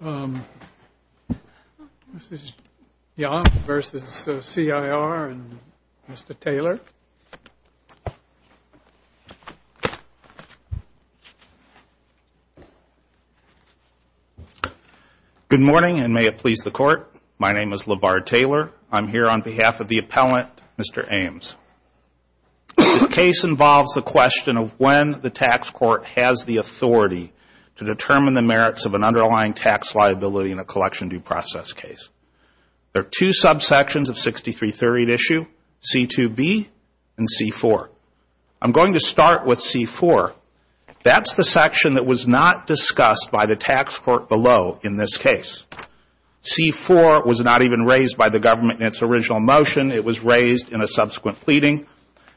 and Mr. Taylor. Good morning and may it please the court. My name is LeVar Taylor. I'm here on behalf of the appellant, Mr. Ames. This case involves the question of when the tax court has the authority to determine the merits of an underlying tax liability in a collection due process case. There are two subsections of 6338 issue, C2B and C4. I'm going to start with C4. That's the section that was not discussed by the tax court below in this case. C4 was not even raised by the government in its original motion. It was raised in a subsequent pleading.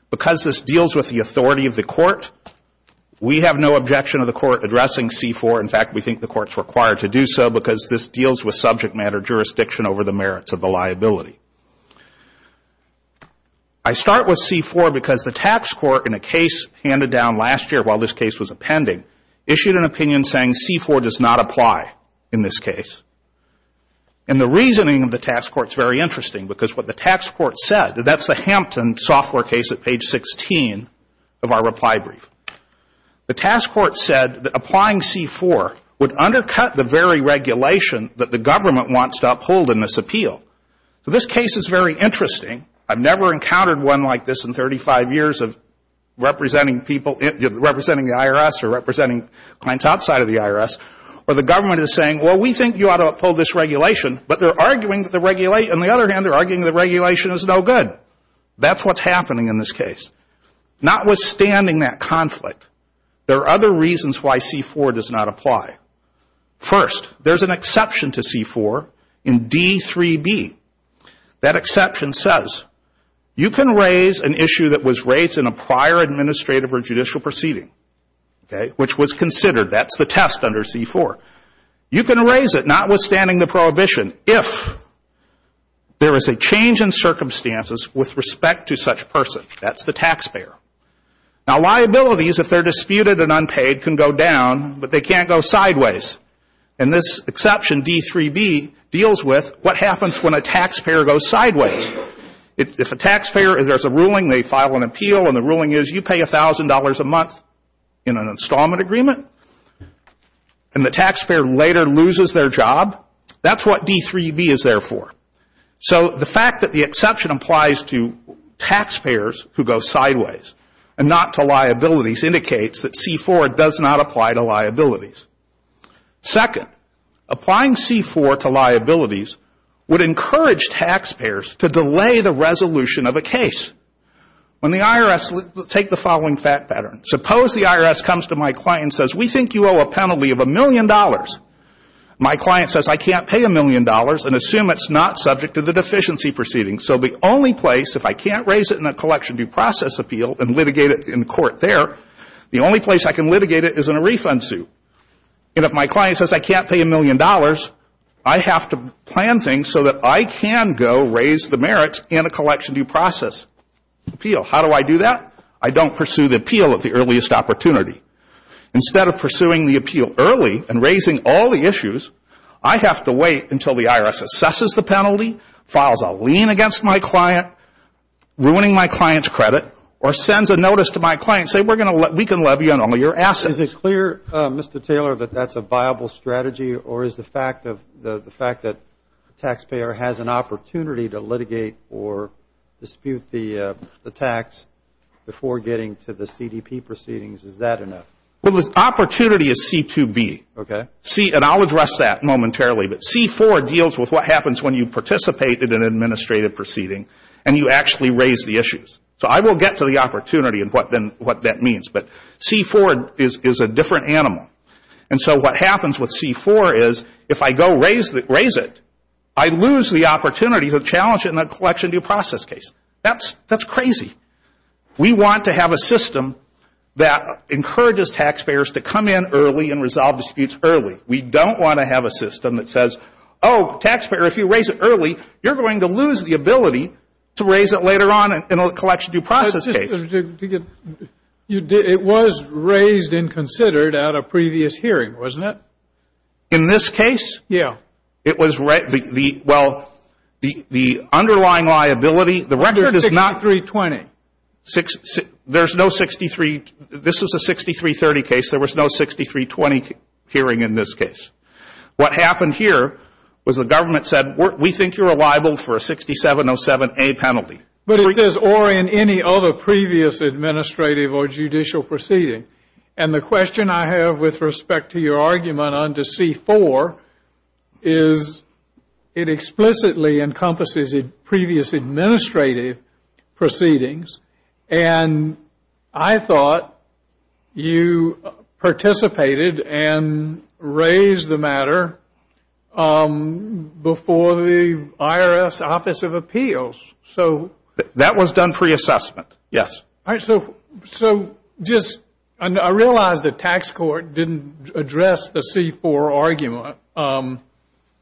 Because this deals with the authority of the court, we have no objection of the court addressing C4. In fact, we think the court is required to do so because this deals with subject matter jurisdiction over the merits of the liability. I start with C4 because the tax court in a case handed down last year while this case was appending issued an opinion saying C4 does not apply in this case. And the reasoning of the tax court is very interesting because what the tax court said, that's the Hampton software case at page 16 of our reply brief. The tax court said that applying C4 would undercut the very regulation that the government wants to uphold in this appeal. So this case is very interesting. I've never encountered one like this in 35 years of representing people, representing the IRS or representing clients outside of the IRS where the government is saying, well, we think you ought to uphold this regulation, but they're arguing that the regulation, on the other hand, they're arguing the regulation is no good. That's what's happening in this case. Notwithstanding that conflict, there are other reasons why C4 does not apply. First, there's an exception to C4 in D3B. That exception says you can raise an issue that was raised in a prior administrative or judicial proceeding, okay, which was considered. That's the test under C4. You can raise it, notwithstanding the prohibition, if there is a change in circumstances with respect to such person. That's the taxpayer. Now liabilities, if they're disputed and unpaid, can go down, but they can't go sideways. And this exception, D3B, deals with what happens when a taxpayer goes sideways. If a taxpayer, there's a ruling, they file an appeal, and the ruling is you pay $1,000 a month in an appeal, and the taxpayer later loses their job, that's what D3B is there for. So the fact that the exception applies to taxpayers who go sideways and not to liabilities indicates that C4 does not apply to liabilities. Second, applying C4 to liabilities would encourage taxpayers to delay the resolution of a case. When the IRS, take the following fact pattern. Suppose the IRS comes to my client and says, we think you owe a penalty of $1,000,000. My client says I can't pay $1,000,000 and assume it's not subject to the deficiency proceeding. So the only place, if I can't raise it in a collection due process appeal and litigate it in court there, the only place I can litigate it is in a refund suit. And if my client says I can't pay $1,000,000, I have to plan things so that I can go raise the merits in a collection due process appeal. So how do I do that? I don't pursue the appeal at the earliest opportunity. Instead of pursuing the appeal early and raising all the issues, I have to wait until the IRS assesses the penalty, files a lien against my client, ruining my client's credit, or sends a notice to my client saying we can levy on all your assets. Is it clear, Mr. Taylor, that that's a viable strategy or is the fact that the taxpayer has an opportunity to litigate or dispute the tax before getting to the CDP proceedings, is that enough? Well, the opportunity is C2B. Okay. And I'll address that momentarily. But C4 deals with what happens when you participate in an administrative proceeding and you actually raise the issues. So I will get to the opportunity and what that means. But C4 is a different animal. And so what happens with C4 is if I go raise it, I lose the opportunity to challenge it in a collection due process case. That's crazy. We want to have a system that encourages taxpayers to come in early and resolve disputes early. We don't want to have a system that says, oh, taxpayer, if you raise it early, you're going to lose the ability to raise it later on in a collection due process case. It was raised and considered at a previous hearing, wasn't it? In this case? Yeah. It was raised. Well, the underlying liability, the record is not... Under 6320. There's no 63... This is a 6330 case. There was no 6320 hearing in this case. What happened here was the government said, we think you're liable for a 6707A penalty. But it says, or in any other previous administrative or judicial proceeding. And the question I have with respect to your argument on to C4 is it explicitly encompasses previous administrative proceedings. And I thought you participated and raised the matter before the IRS Office of Appeals. That was done pre-assessment, yes. All right. So just, I realize the tax court didn't address the C4 argument.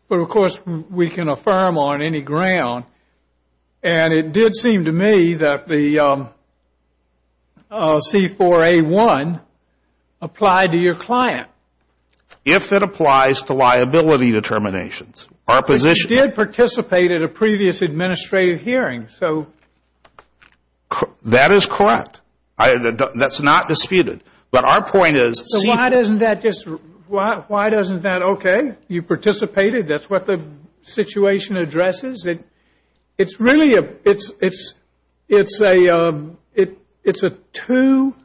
But of course, we can affirm on any ground. And it did seem to me that the C4A1 applied to your client. If it applies to liability determinations. But you did participate at a previous administrative hearing, so... That is correct. That's not disputed. But our point is... So why doesn't that just... Why doesn't that... Okay, you participated. That's what the situation addresses. It's really a... It's a two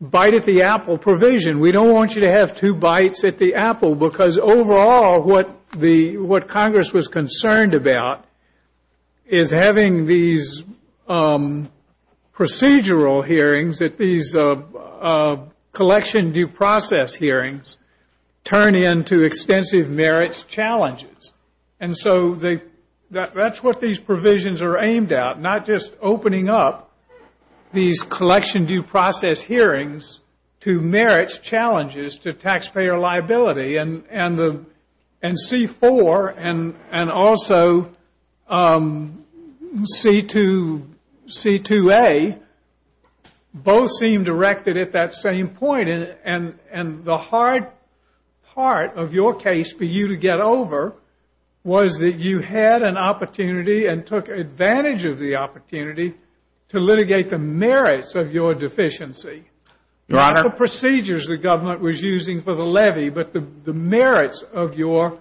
bite at the apple provision. We don't want you to have two bites at the apple. Because overall, what Congress was concerned about is having these procedural hearings, that these collection due process hearings turn into extensive merits challenges. And so that's what these provisions are aimed at. Not just opening up these collection due process hearings to merits challenges to taxpayer liability. And C4, and also C4A1, and C2A, both seem directed at that same point. And the hard part of your case for you to get over was that you had an opportunity and took advantage of the opportunity to litigate the merits of your deficiency. Your Honor... Not the procedures the government was using for the levy, but the merits of your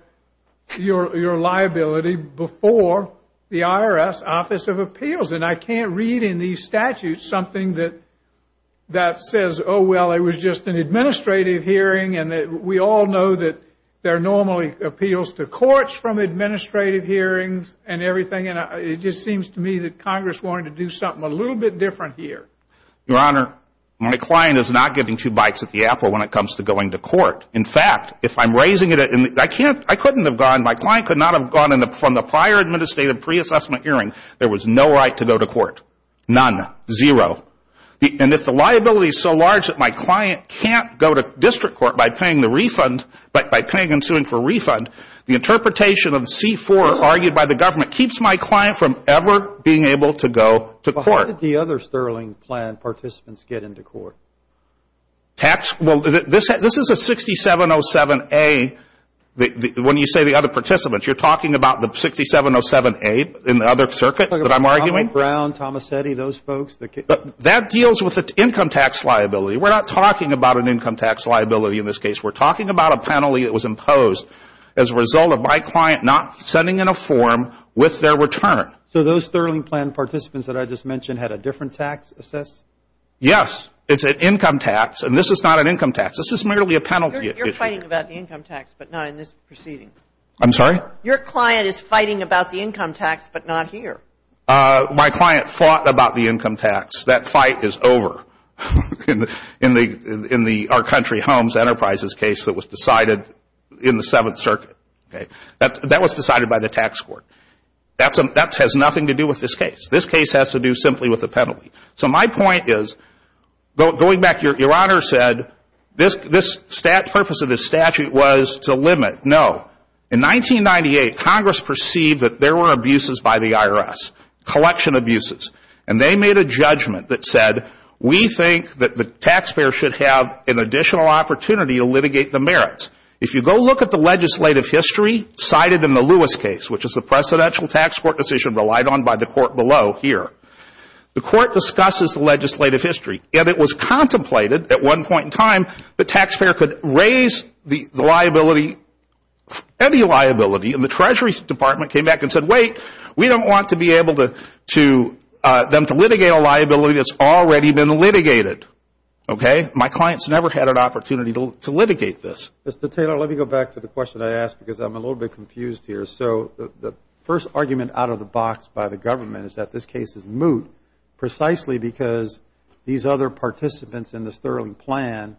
liability before the IRS Office of Appeals. And I can't read in these statutes something that says, oh well, it was just an administrative hearing. And we all know that there are normally appeals to courts from administrative hearings and everything. And it just seems to me that Congress wanted to do something a little bit different here. Your Honor, my client is not getting two bites at the apple when it comes to going to court. In fact, if I'm raising it, I couldn't have gone, my client could not have gone from the prior administrative pre-assessment hearing, there was no right to go to court. None. Zero. And if the liability is so large that my client can't go to district court by paying the refund, by paying and suing for refund, the interpretation of C4 argued by the government keeps my client from ever being able to go to court. But how did the other Sterling plan participants get into court? Tax? Well, this is a 6707A, when you say the other participants, you're talking about the 6707A in the other circuits that I'm arguing? Brown, Tomasetti, those folks. That deals with income tax liability. We're not talking about an income tax liability in this case. We're talking about a penalty that was imposed as a result of my client not sending in a form with their return. So those Sterling plan participants that I just mentioned had a different tax assessed? Yes. It's an income tax, and this is not an income tax. This is merely a penalty. You're fighting about the income tax, but not in this proceeding. I'm sorry? Your client is fighting about the income tax, but not here. My client fought about the income tax. That fight is over. In the Our Country Homes Enterprises case that was decided in the Seventh Circuit. That was decided by the tax court. That has nothing to do with this case. This case has to do simply with a penalty. So my point is, going back, your Honor said this purpose of this statute was to limit. No. In 1998, Congress perceived that there were abuses by the IRS. Collection abuses. And they made a judgment that said, we think that the taxpayer should have an additional opportunity to litigate the merits. If you go look at the legislative history cited in the Lewis case, which is the presidential tax court decision relied on by the court below here, the court discusses the legislative history. And it was contemplated at one point in time, the taxpayer could raise the liability, any liability, and the Treasury Department came back and said, wait, we don't want to be able to, to, them to litigate a liability that's already been litigated. Okay? My client's never had an opportunity to litigate this. Mr. Taylor, let me go back to the question I asked because I'm a little bit confused here. So the first argument out of the box by the government is that this case is moot precisely because these other participants in this Sterling plan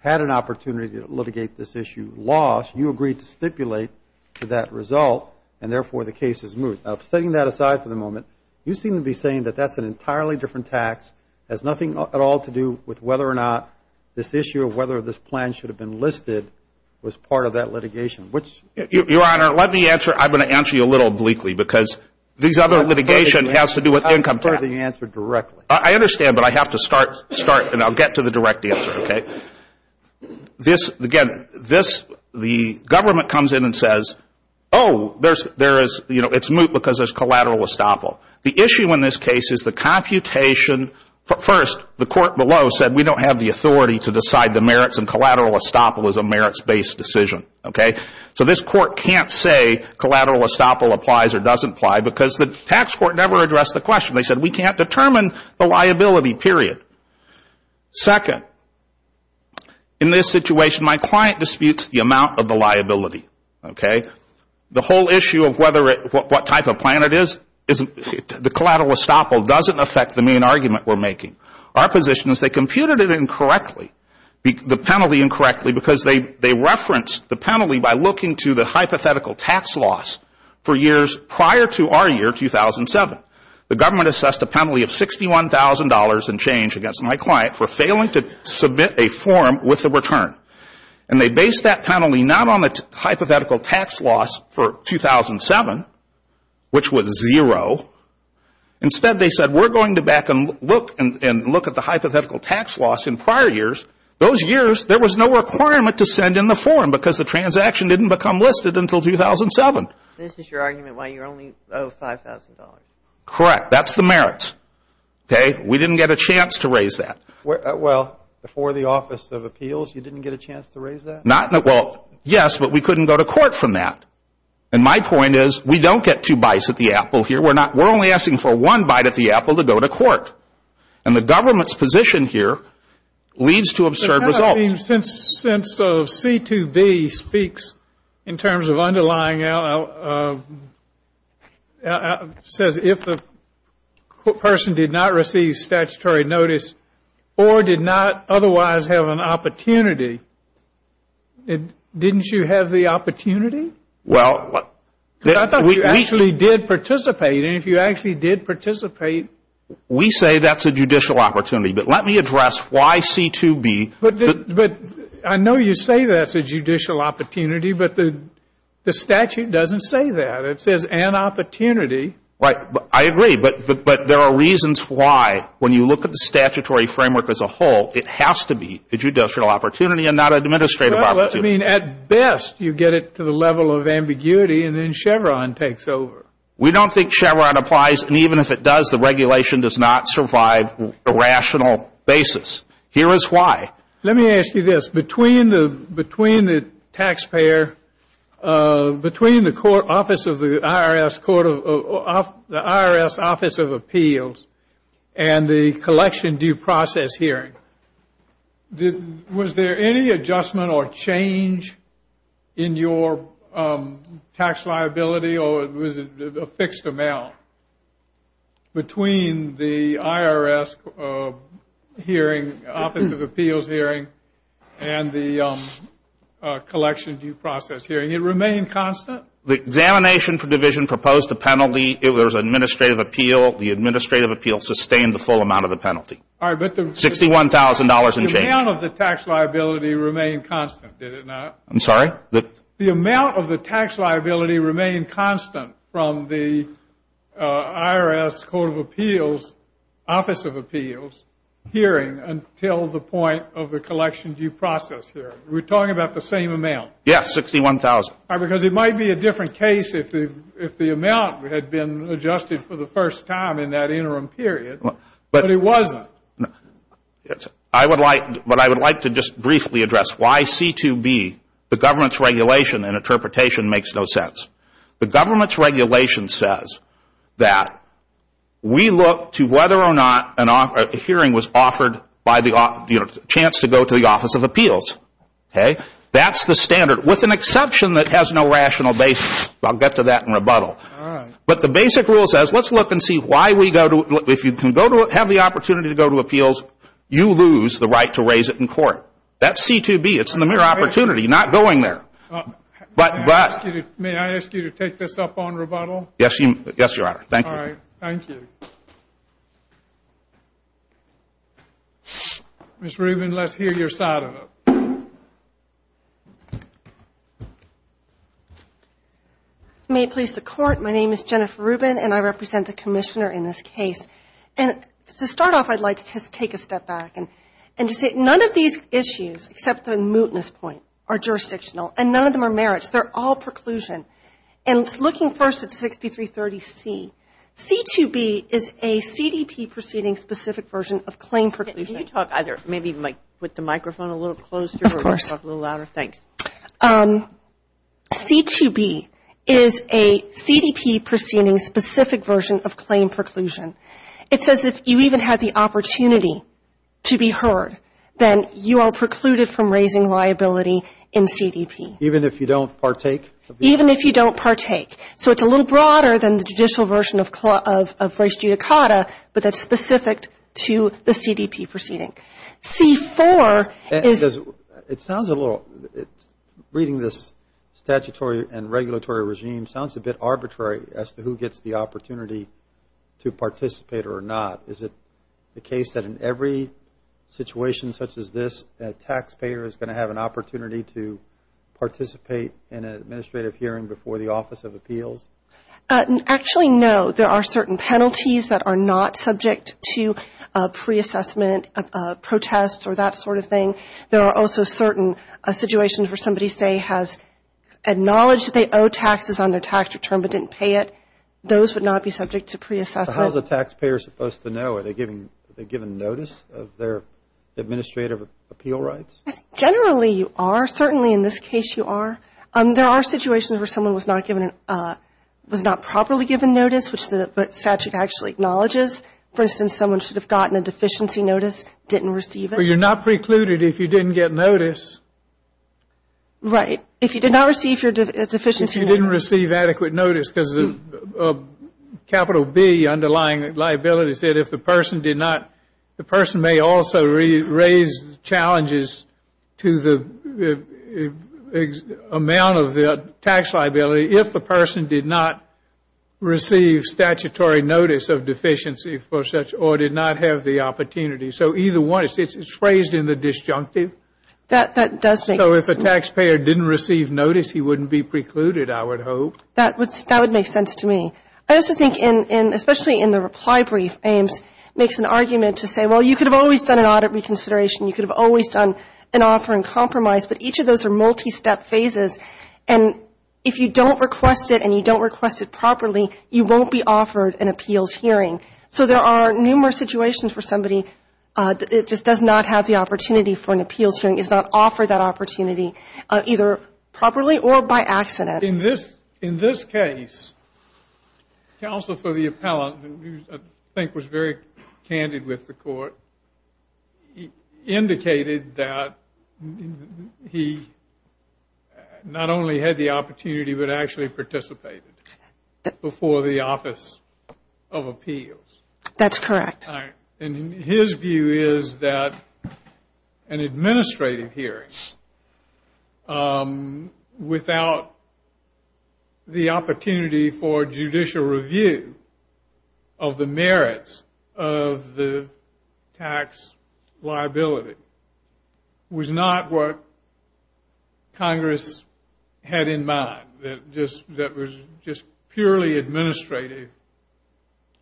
had an opportunity to litigate this issue, lost. You agreed to stipulate to that result, and therefore the case is moot. Now, setting that aside for the moment, you seem to be saying that that's an entirely different tax, has nothing at all to do with whether or not this issue, whether this plan should have been listed, was part of that litigation. Your Honor, let me answer, I'm going to answer you a little obliquely, because these other litigation has to do with income tax. I prefer that you answer directly. I understand, but I have to start, and I'll get to the direct answer, okay? This, again, this, the government comes in and says, oh, there's, there is, you know, it's moot because there's collateral estoppel. The issue in this case is the computation, first, the court below said we don't have the authority to decide the merits and collateral estoppel is a merits-based decision. Okay? So this court can't say collateral estoppel applies or doesn't apply because the tax court never addressed the question. They said we can't determine the liability, period. Second, in this situation, my client disputes the amount of the liability. Okay? The whole issue of whether it, what type of plan it is, isn't, the collateral estoppel doesn't affect the main argument we're making. Our position is they computed it incorrectly, the penalty incorrectly, because they referenced the penalty by looking to the hypothetical tax loss for years prior to our year, 2007. The government assessed a penalty of $61,000 in change against my client for failing to submit a form with a return, and they based that penalty not on the hypothetical tax loss for 2007, which was zero. Instead, they said we're going to back and look at the hypothetical tax loss in prior years. Those years, there was no requirement to send in the form because the transaction didn't become listed until 2007. This is your argument why you only owe $5,000. Correct. That's the merits. Okay? We didn't get a chance to raise that. Well, before the Office of Appeals, you didn't get a chance to raise that? Not, well, yes, but we couldn't go to court from that. And my point is, we don't get two bites at the apple here. We're not, we're only asking for one bite at the apple to go to court. And the government's position here leads to absurd results. Since C2B speaks in terms of underlying, says if the person did not receive statutory notice or did not otherwise have an opportunity, didn't you have the opportunity? Well, we actually did participate, and if you actually did participate, we say that's a judicial opportunity. But let me address why C2B... But I know you say that's a judicial opportunity, but the statute doesn't say that. It says an opportunity. Right. I agree. But there are reasons why, when you look at the statutory framework as a whole, it has to be a judicial opportunity and not an administrative opportunity. Well, I mean, at best, you get it to the level of ambiguity, and then Chevron takes over. We don't think Chevron applies. And even if it does, the regulation does not survive a rational basis. Here is why. Let me ask you this. Between the taxpayer, between the IRS Office of Appeals and the collection due process hearing, was there any adjustment or change in your tax liability or was it a fixed amount? Between the IRS Office of Appeals hearing and the collection due process hearing, it remained constant? The examination for division proposed a penalty. It was an administrative appeal. The administrative appeal sustained the full amount of the penalty. All right, but the... $61,000 in change. The amount of the tax liability remained constant, did it not? I'm sorry? The amount of the tax liability remained constant from the IRS Court of Appeals, Office of Appeals hearing until the point of the collection due process hearing. We're talking about the same amount? Yes, $61,000. Because it might be a different case if the amount had been adjusted for the first time in that interim period, but it wasn't. I would like to just briefly address why C2B, the government's regulation and interpretation, makes no sense. The government's regulation says that we look to whether or not a hearing was offered by the chance to go to the Office of Appeals. That's the standard, with an exception that has no rational basis. I'll get to that in rebuttal. But the basic rule says, let's look and see why we go to... If you have the opportunity to go to appeals, you lose the right to raise it in court. That's C2B. It's in the mere opportunity, not going there. But... May I ask you to take this up on rebuttal? Yes, Your Honor. Thank you. Thank you. Ms. Rubin, let's hear your side of it. May it please the Court, my name is Jennifer Rubin and I represent the commissioner in this case. And to start off, I'd like to take a step back and to say none of these issues, except the mootness point, are jurisdictional and none of them are merits. They're all preclusion. And looking first at 6330C, C2B is a CDP proceeding specific version of claim preclusion. Can you talk either, maybe put the microphone a little closer or talk a little louder? Thanks. C2B is a CDP proceeding specific version of claim preclusion. It says if you even have the opportunity to be heard, then you are precluded from raising liability in CDP. Even if you don't partake? Even if you don't partake. So it's a little broader than the judicial version of reis judicata, but that's specific to the CDP proceeding. C4 is... It sounds a little... Reading this statutory and regulatory regime sounds a bit arbitrary as to who gets the opportunity to participate or not. Is it the case that in every situation such as this, a taxpayer is going to have an opportunity to participate in an administrative hearing before the Office of Appeals? Actually, no. There are certain penalties that are not subject to pre-assessment protests or that sort of thing. There are also certain situations where somebody, say, has acknowledged that they owe taxes on their tax return but didn't pay it. Those would not be subject to pre-assessment. How is a taxpayer supposed to know? Are they given notice of their administrative appeal rights? Generally, you are. Certainly in this case, you are. There are situations where someone was not given, was not properly given notice, which the statute actually acknowledges. For instance, someone should have gotten a deficiency notice, didn't receive it. But you're not precluded if you didn't get notice. Right. If you did not receive your deficiency notice. If you didn't receive adequate notice because of capital B, underlying liability, said if the person did not, the person may also raise challenges to the amount of the tax liability if the person did not receive statutory notice of deficiency for such or did not have the opportunity. So either one, it's phrased in the disjunctive. That does make sense. So if a taxpayer didn't receive notice, he wouldn't be precluded, I would hope. That would make sense to me. I also think, especially in the reply brief, Ames makes an argument to say, well, you could have always done an audit reconsideration. You could have always done an offer in compromise. But each of those are multi-step phases. And if you don't request it and you don't request it properly, you won't be offered an appeals hearing. So there are numerous situations where somebody just does not have the opportunity for an appeals hearing, is not offered that opportunity, either properly or by accident. In this case, counsel for the appellant, who I think was very candid with the court, indicated that he not only had the opportunity but actually participated before the Office of Appeals. That's correct. And his view is that an administrative hearing of a tax without the opportunity for judicial review of the merits of the tax liability was not what Congress had in mind. That was just purely administrative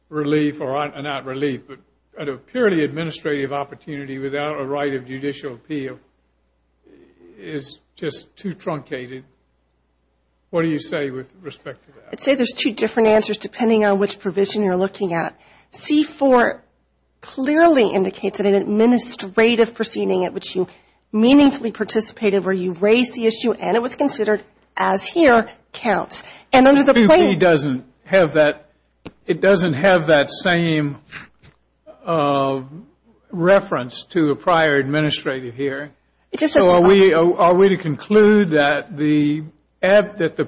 relief, or not relief, but a purely administrative opportunity without a right of judicial appeal is just too truncated. What do you say with respect to that? I'd say there's two different answers depending on which provision you're looking at. C-4 clearly indicates that an administrative proceeding at which you meaningfully participated where you raised the issue and it was considered as here counts. And under the plan- C-2B doesn't have that, it doesn't have that same reference to a prior administrative hearing. So are we to conclude that the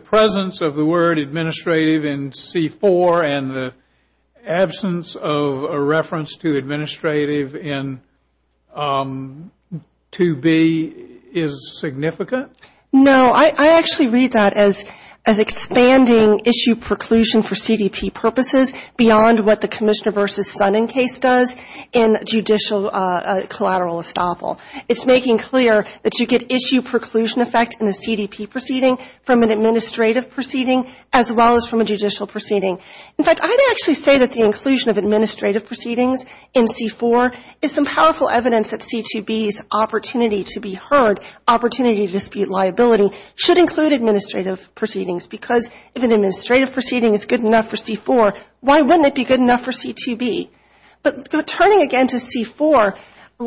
presence of the word administrative in C-4 and the absence of a reference to administrative in 2B is significant? No, I actually read that as expanding issue preclusion for CDP purposes beyond what the Commissioner versus Sonnen case does in judicial collateral estoppel. It's making clear that you get issue preclusion effect in the CDP proceeding from an administrative proceeding as well as from a judicial proceeding. In fact, I'd actually say that the inclusion of administrative proceedings in C-4 is some powerful evidence that C-2B's opportunity to be heard, opportunity to dispute liability should include administrative proceedings because if an administrative proceeding is good enough for C-4, why wouldn't it be good enough for C-2B? But turning again to C-4,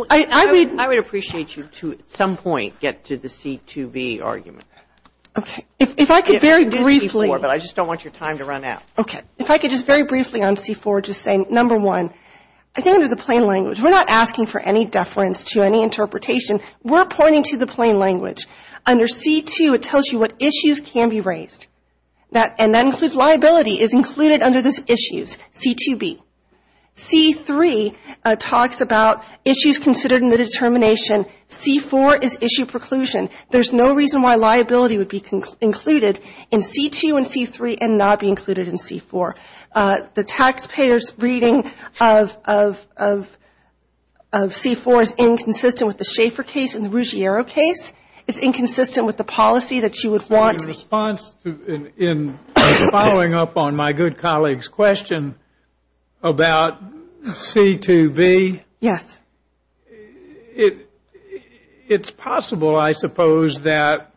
I read- I would appreciate you to, at some point, get to the C-2B argument. Okay, if I could very briefly- But I just don't want your time to run out. Okay, if I could just very briefly on C-4 just say, number one, I think under the plain language, we're not asking for any deference to any interpretation, we're pointing to the plain language. Under C-2, it tells you what issues can be raised. That, and that includes liability, is included under those issues, C-2B. C-3 talks about issues considered in the determination. C-4 is issue preclusion. There's no reason why liability would be included in C-2 and C-3 and not be included in C-4. The taxpayer's reading of C-4 is inconsistent with the Schaeffer case and the Ruggiero case. It's inconsistent with the policy that you would want- On my good colleague's question about C-2B. Yes. It's possible, I suppose, that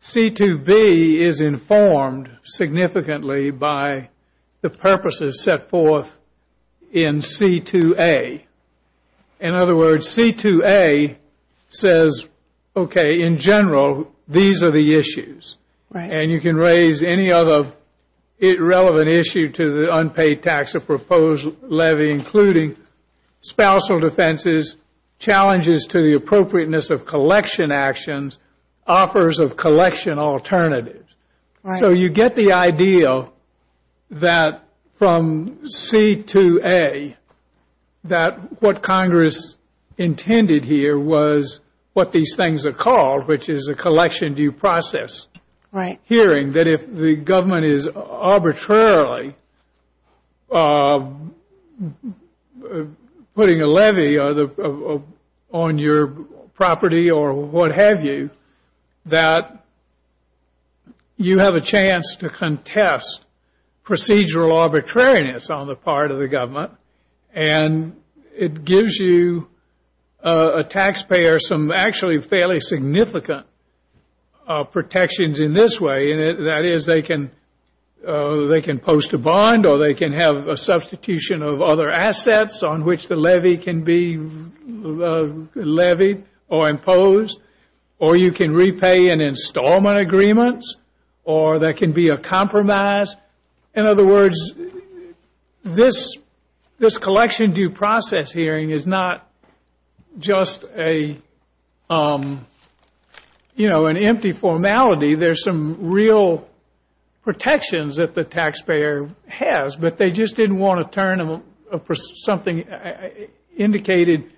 C-2B is informed significantly by the purposes set forth in C-2A. In other words, C-2A says, okay, in general, these are the issues. And you can raise any other relevant issue to the unpaid tax or proposed levy, including spousal defenses, challenges to the appropriateness of collection actions, offers of collection alternatives. So you get the idea that from C-2A, that what Congress intended here was what these things are called, which is a collection due process. Right. Hearing that if the government is arbitrarily putting a levy on your property or what have you, that you have a chance to contest procedural arbitrariness on the part of the government. And it gives you a taxpayer some actually fairly significant protections in this way. And that is they can post a bond or they can have a substitution of other assets on which the levy can be levied or imposed. Or you can repay an installment agreements or there can be a compromise. In other words, this collection due process hearing is not just a, you know, an empty formality. There's some real protections that the taxpayer has, but they just didn't want to turn something indicated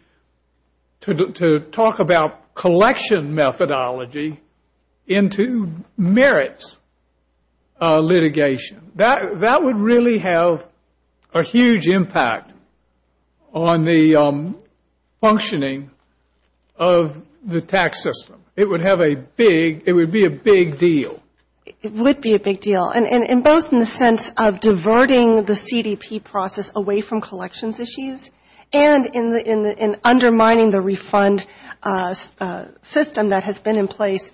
to talk about collection methodology into merits litigation. That would really have a huge impact on the functioning of the tax system. It would have a big, it would be a big deal. It would be a big deal. And both in the sense of diverting the CDP process away from collections issues and in undermining the refund system that has been in place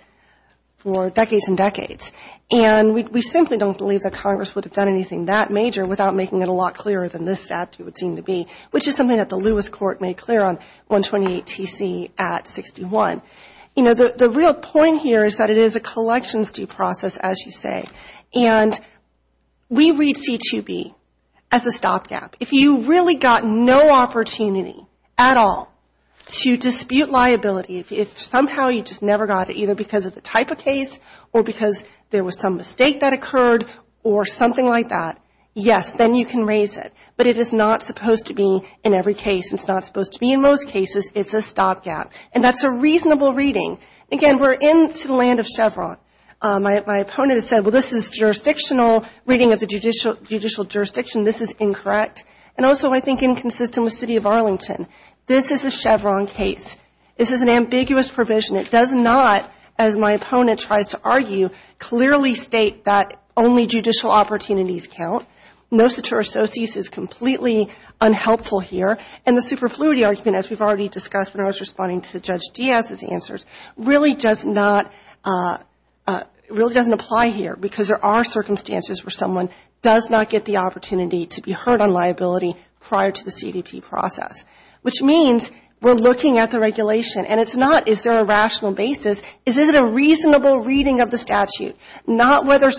for decades and decades. And we simply don't believe that Congress would have done anything that major without making it a lot clearer than this statute would seem to be, which is something that the Lewis court made clear on 128 TC at 61. You know, the real point here is that it is a collections due process, as you say. And we read C2B as a stop gap. If you really got no opportunity at all to dispute liability, if somehow you just never got it either because of the type of case or because there was some mistake that occurred or something like that, yes, then you can raise it. But it is not supposed to be in every case. It's not supposed to be in most cases. It's a stop gap. And that's a reasonable reading. Again, we're into the land of Chevron. My opponent has said, well, this is jurisdictional reading of the judicial jurisdiction. This is incorrect. And also I think inconsistent with city of Arlington. This is a Chevron case. This is an ambiguous provision. It does not, as my opponent tries to argue, clearly state that only judicial opportunities count. No secure associates is completely unhelpful here. And the superfluity argument, as we've already discussed when I was responding to Judge Diaz's answers, really doesn't apply here because there are circumstances where someone does not get the opportunity to be heard on liability prior to the CDP process. Which means we're looking at the regulation. And it's not, is there a rational basis? Is it a reasonable reading of the statute? Not whether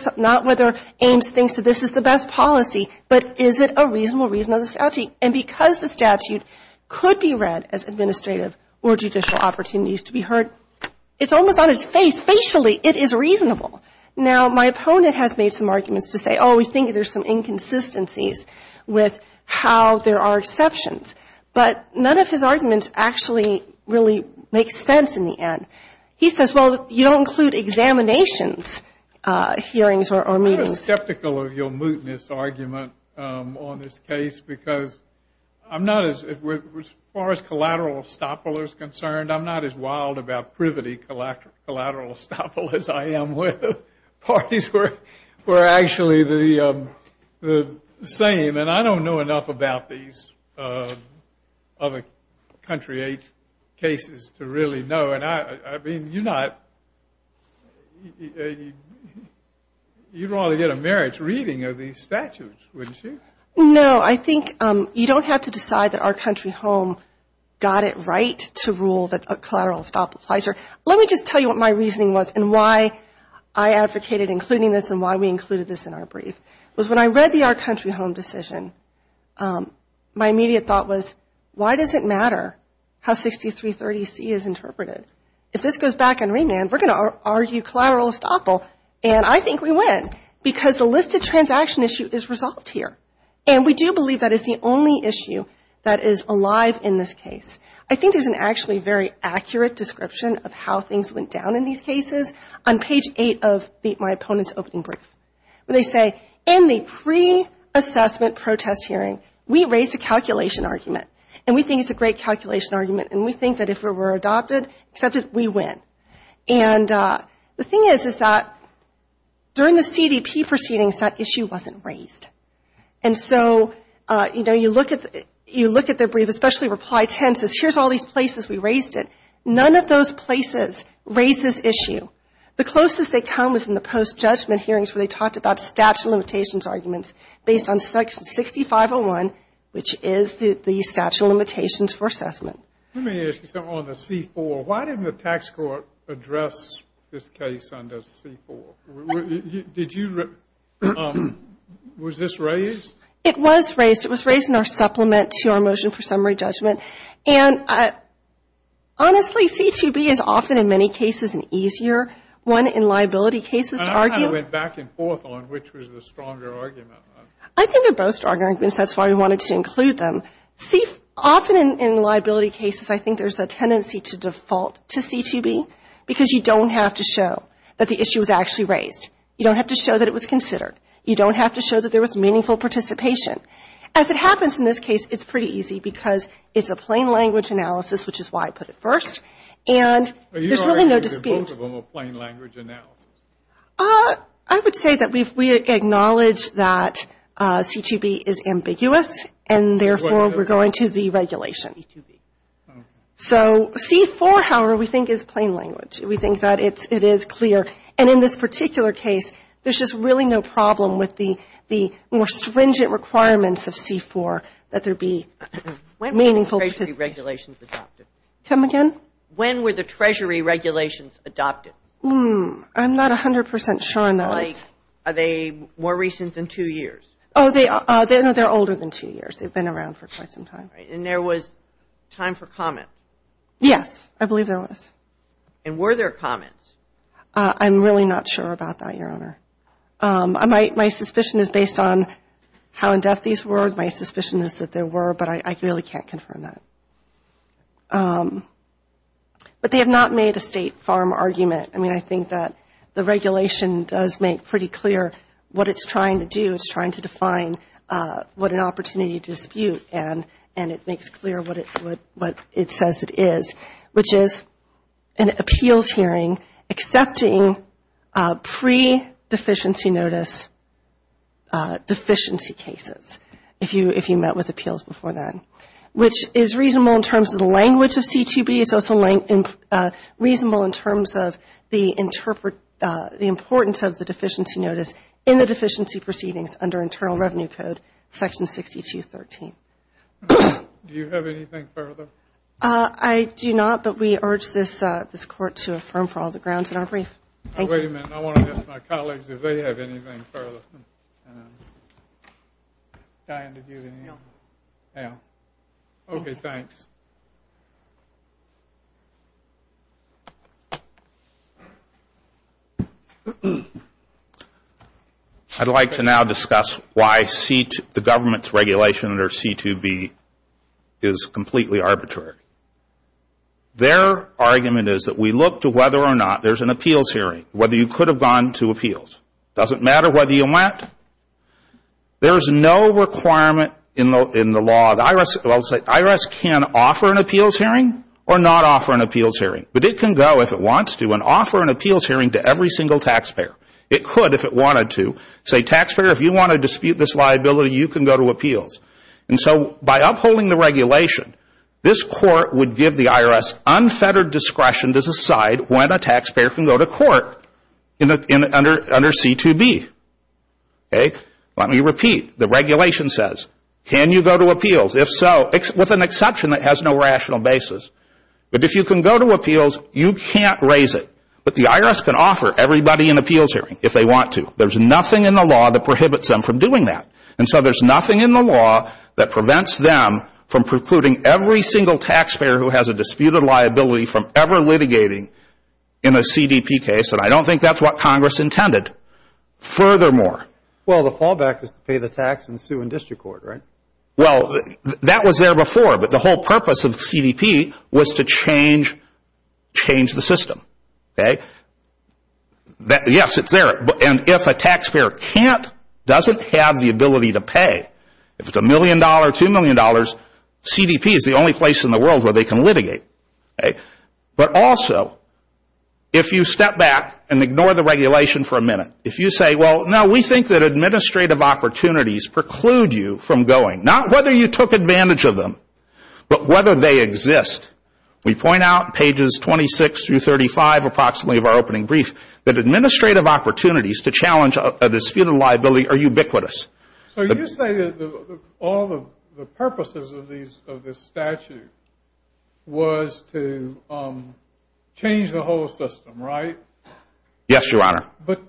Ames thinks that this is the best policy, but is it a reasonable reason of the statute? And because the statute could be read as administrative or judicial opportunities to be heard, it's almost on his face. Facially, it is reasonable. Now, my opponent has made some arguments to say, oh, we think there's some inconsistencies with how there are exceptions. But none of his arguments actually really make sense in the end. He says, well, you don't include examinations, hearings or meetings. I'm skeptical of your mootness argument on this case because I'm not as, as far as collateral estoppel is concerned, I'm not as wild about privity collateral estoppel as I am with parties where we're actually the same. And I don't know enough about these other country cases to really know. I mean, you're not, you'd rather get a marriage reading of these statutes, wouldn't you? No, I think you don't have to decide that Our Country Home got it right to rule that a collateral estoppel applies here. Let me just tell you what my reasoning was and why I advocated including this and why we included this in our brief, was when I read the Our Country Home decision, my immediate thought was, why does it matter how 6330C is interpreted? If this goes back in remand, we're gonna argue collateral estoppel and I think we win because the listed transaction issue is resolved here. And we do believe that is the only issue that is alive in this case. I think there's an actually very accurate description of how things went down in these cases on page eight of my opponent's opening brief. They say, in the pre-assessment protest hearing, we raised a calculation argument and we think it's a great calculation argument and we think that if it were adopted, accepted, we win. And the thing is, is that during the CDP proceedings, that issue wasn't raised. And so, you know, you look at the brief, especially reply tenses, here's all these places we raised it. None of those places raises issue. The closest they come was in the post-judgment hearings where they talked about statute limitations arguments based on section 6501, which is the statute of limitations for assessment. Let me ask you something on the C-4. Why didn't the tax court address this case under C-4? Did you, was this raised? It was raised. It was raised in our supplement to our motion for summary judgment. And honestly, C-2B is often, in many cases, an easier one in liability cases to argue. And I kind of went back and forth on which was the stronger argument. I think they're both stronger arguments. That's why we wanted to include them. See, often in liability cases, I think there's a tendency to default to C-2B because you don't have to show that the issue was actually raised. You don't have to show that it was considered. You don't have to show that there was meaningful participation. As it happens in this case, it's pretty easy because it's a plain language analysis, which is why I put it first. And there's really no dispute. Are you arguing that both of them are plain language analysis? I would say that we acknowledge that C-2B is ambiguous and therefore we're going to the regulation. So C-4, however, we think is plain language. We think that it is clear. And in this particular case, there's just really no problem with the more stringent requirements of C-4 that there be meaningful participation. When were the treasury regulations adopted? Come again? When were the treasury regulations adopted? I'm not 100% sure on that. Like, are they more recent than two years? Oh, no, they're older than two years. They've been around for quite some time. Right, and there was time for comment. Yes, I believe there was. And were there comments? I'm really not sure about that, Your Honor. My suspicion is based on how in-depth these were. My suspicion is that there were, but I really can't confirm that. But they have not made a State Farm argument. I mean, I think that the regulation does make pretty clear what it's trying to do. It's trying to define what an opportunity to dispute, and it makes clear what it says it is, which is an appeals hearing accepting pre-deficiency notice deficiency cases, if you met with appeals before then, which is reasonable in terms of the language of C2B. It's also reasonable in terms of the importance of the deficiency notice in the deficiency proceedings under Internal Revenue Code, Section 62.13. Do you have anything further? I do not, but we urge this Court to affirm for all the grounds in our brief. Wait a minute, I want to ask my colleagues if they have anything further. Diane, did you have anything? Yeah. Okay, thanks. I'd like to now discuss why the government's regulation under C2B is completely arbitrary. Their argument is that we look to whether or not there's an appeals hearing, whether you could have gone to appeals. Doesn't matter whether you went. There's no requirement in the law. The IRS can offer an appeals hearing or not offer an appeals hearing, but it can go if it wants to and offer an appeals hearing to every single taxpayer. It could if it wanted to. Say, taxpayer, if you want to dispute this liability, you can go to appeals. And so by upholding the regulation, this Court would give the IRS unfettered discretion to decide when a taxpayer can go to court under C2B. Let me repeat, the regulation says, can you go to appeals? If so, with an exception that has no rational basis. But if you can go to appeals, you can't raise it. But the IRS can offer everybody an appeals hearing if they want to. There's nothing in the law that prohibits them from doing that. And so there's nothing in the law that prevents them from precluding every single taxpayer who has a disputed liability from ever litigating in a CDP case, and I don't think that's what Congress intended. Furthermore. Well, the fallback is to pay the tax and sue in district court, right? Well, that was there before, but the whole purpose of CDP was to change the system. Yes, it's there. And if a taxpayer can't, doesn't have the ability to pay, if it's a million dollars, two million dollars, CDP is the only place in the world where they can litigate. But also, if you step back and ignore the regulation for a minute, if you say, well, now we think that administrative opportunities preclude you from going, not whether you took advantage of them, but whether they exist. We point out pages 26 through 35, approximately of our opening brief, that administrative opportunities to challenge a disputed liability are ubiquitous. So you say that all the purposes of this statute was to change the whole system, right? Yes, Your Honor. But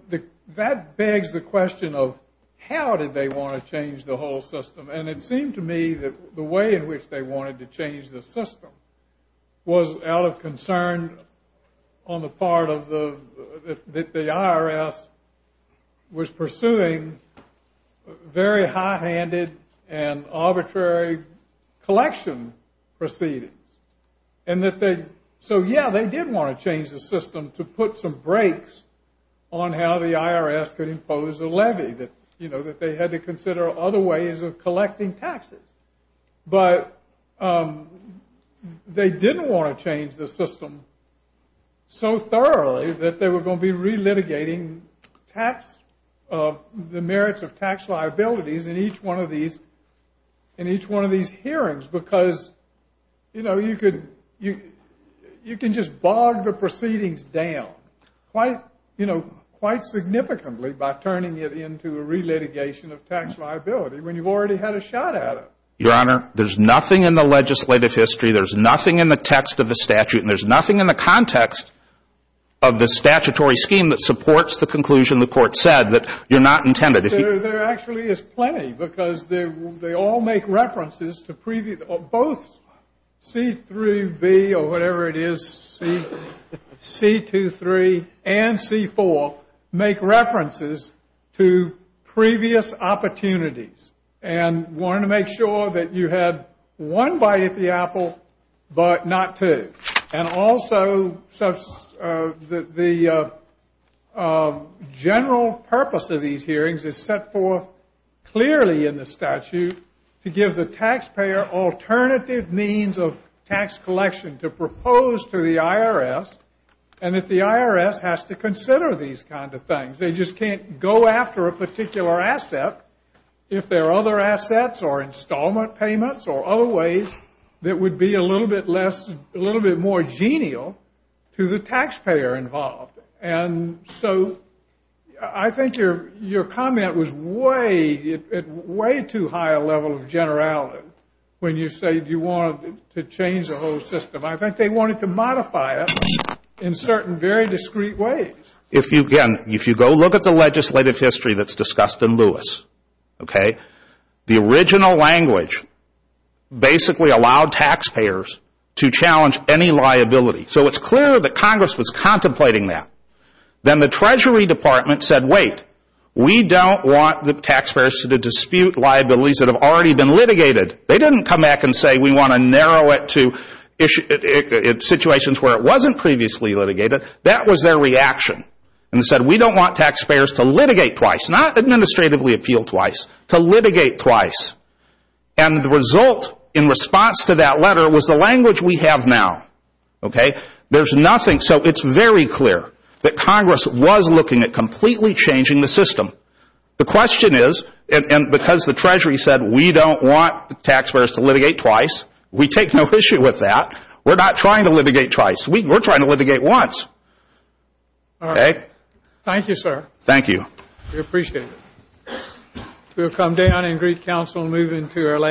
that begs the question of how did they want to change the whole system? And it seemed to me that the way in which they wanted to change the system was out of concern on the part of the, that the IRS was pursuing very high-handed and arbitrary collection proceedings. And that they, so yeah, they did want to change the system to put some brakes on how the IRS could impose a levy, that they had to consider other ways of collecting taxes. But they didn't want to change the system so thoroughly that they were going to be re-litigating the merits of tax liabilities in each one of these, in each one of these hearings, because you can just bog the proceedings down quite significantly by turning it into a re-litigation of tax liability when you've already had a shot at it. Your Honor, there's nothing in the legislative history, there's nothing in the text of the statute, and there's nothing in the context of the statutory scheme that supports the conclusion the court said that you're not intended. There actually is plenty because they all make references to previous, both C-3B, or whatever it is, C-2-3, and C-4, make references to previous opportunities. And wanted to make sure that you had one bite at the apple, but not two. And also, the general purpose of these hearings is set forth clearly in the statute to give the taxpayer alternative means of tax collection to propose to the IRS, and that the IRS has to consider these kind of things. They just can't go after a particular asset if there are other assets or installment payments or other ways that would be a little bit less, a little bit more genial to the taxpayer involved. And so, I think your comment was way, way too high a level of generality when you say you wanted to change the whole system. I think they wanted to modify it in certain very discreet ways. If you, again, if you go look at the legislative history that's discussed in Lewis, okay, the original language basically allowed taxpayers to challenge any liability. So it's clear that Congress was contemplating that. Then the Treasury Department said, wait, we don't want the taxpayers to dispute liabilities that have already been litigated. They didn't come back and say, we wanna narrow it to situations where it wasn't previously litigated. That was their reaction. And they said, we don't want taxpayers to litigate twice, not administratively appeal twice, to litigate twice. And the result in response to that letter was the language we have now, okay? There's nothing, so it's very clear that Congress was looking at completely changing the system. The question is, and because the Treasury said, we don't want the taxpayers to litigate twice, we take no issue with that. We're not trying to litigate twice. We're trying to litigate once, okay? Thank you, sir. Thank you. We appreciate it. We'll come down and greet counsel moving to our last.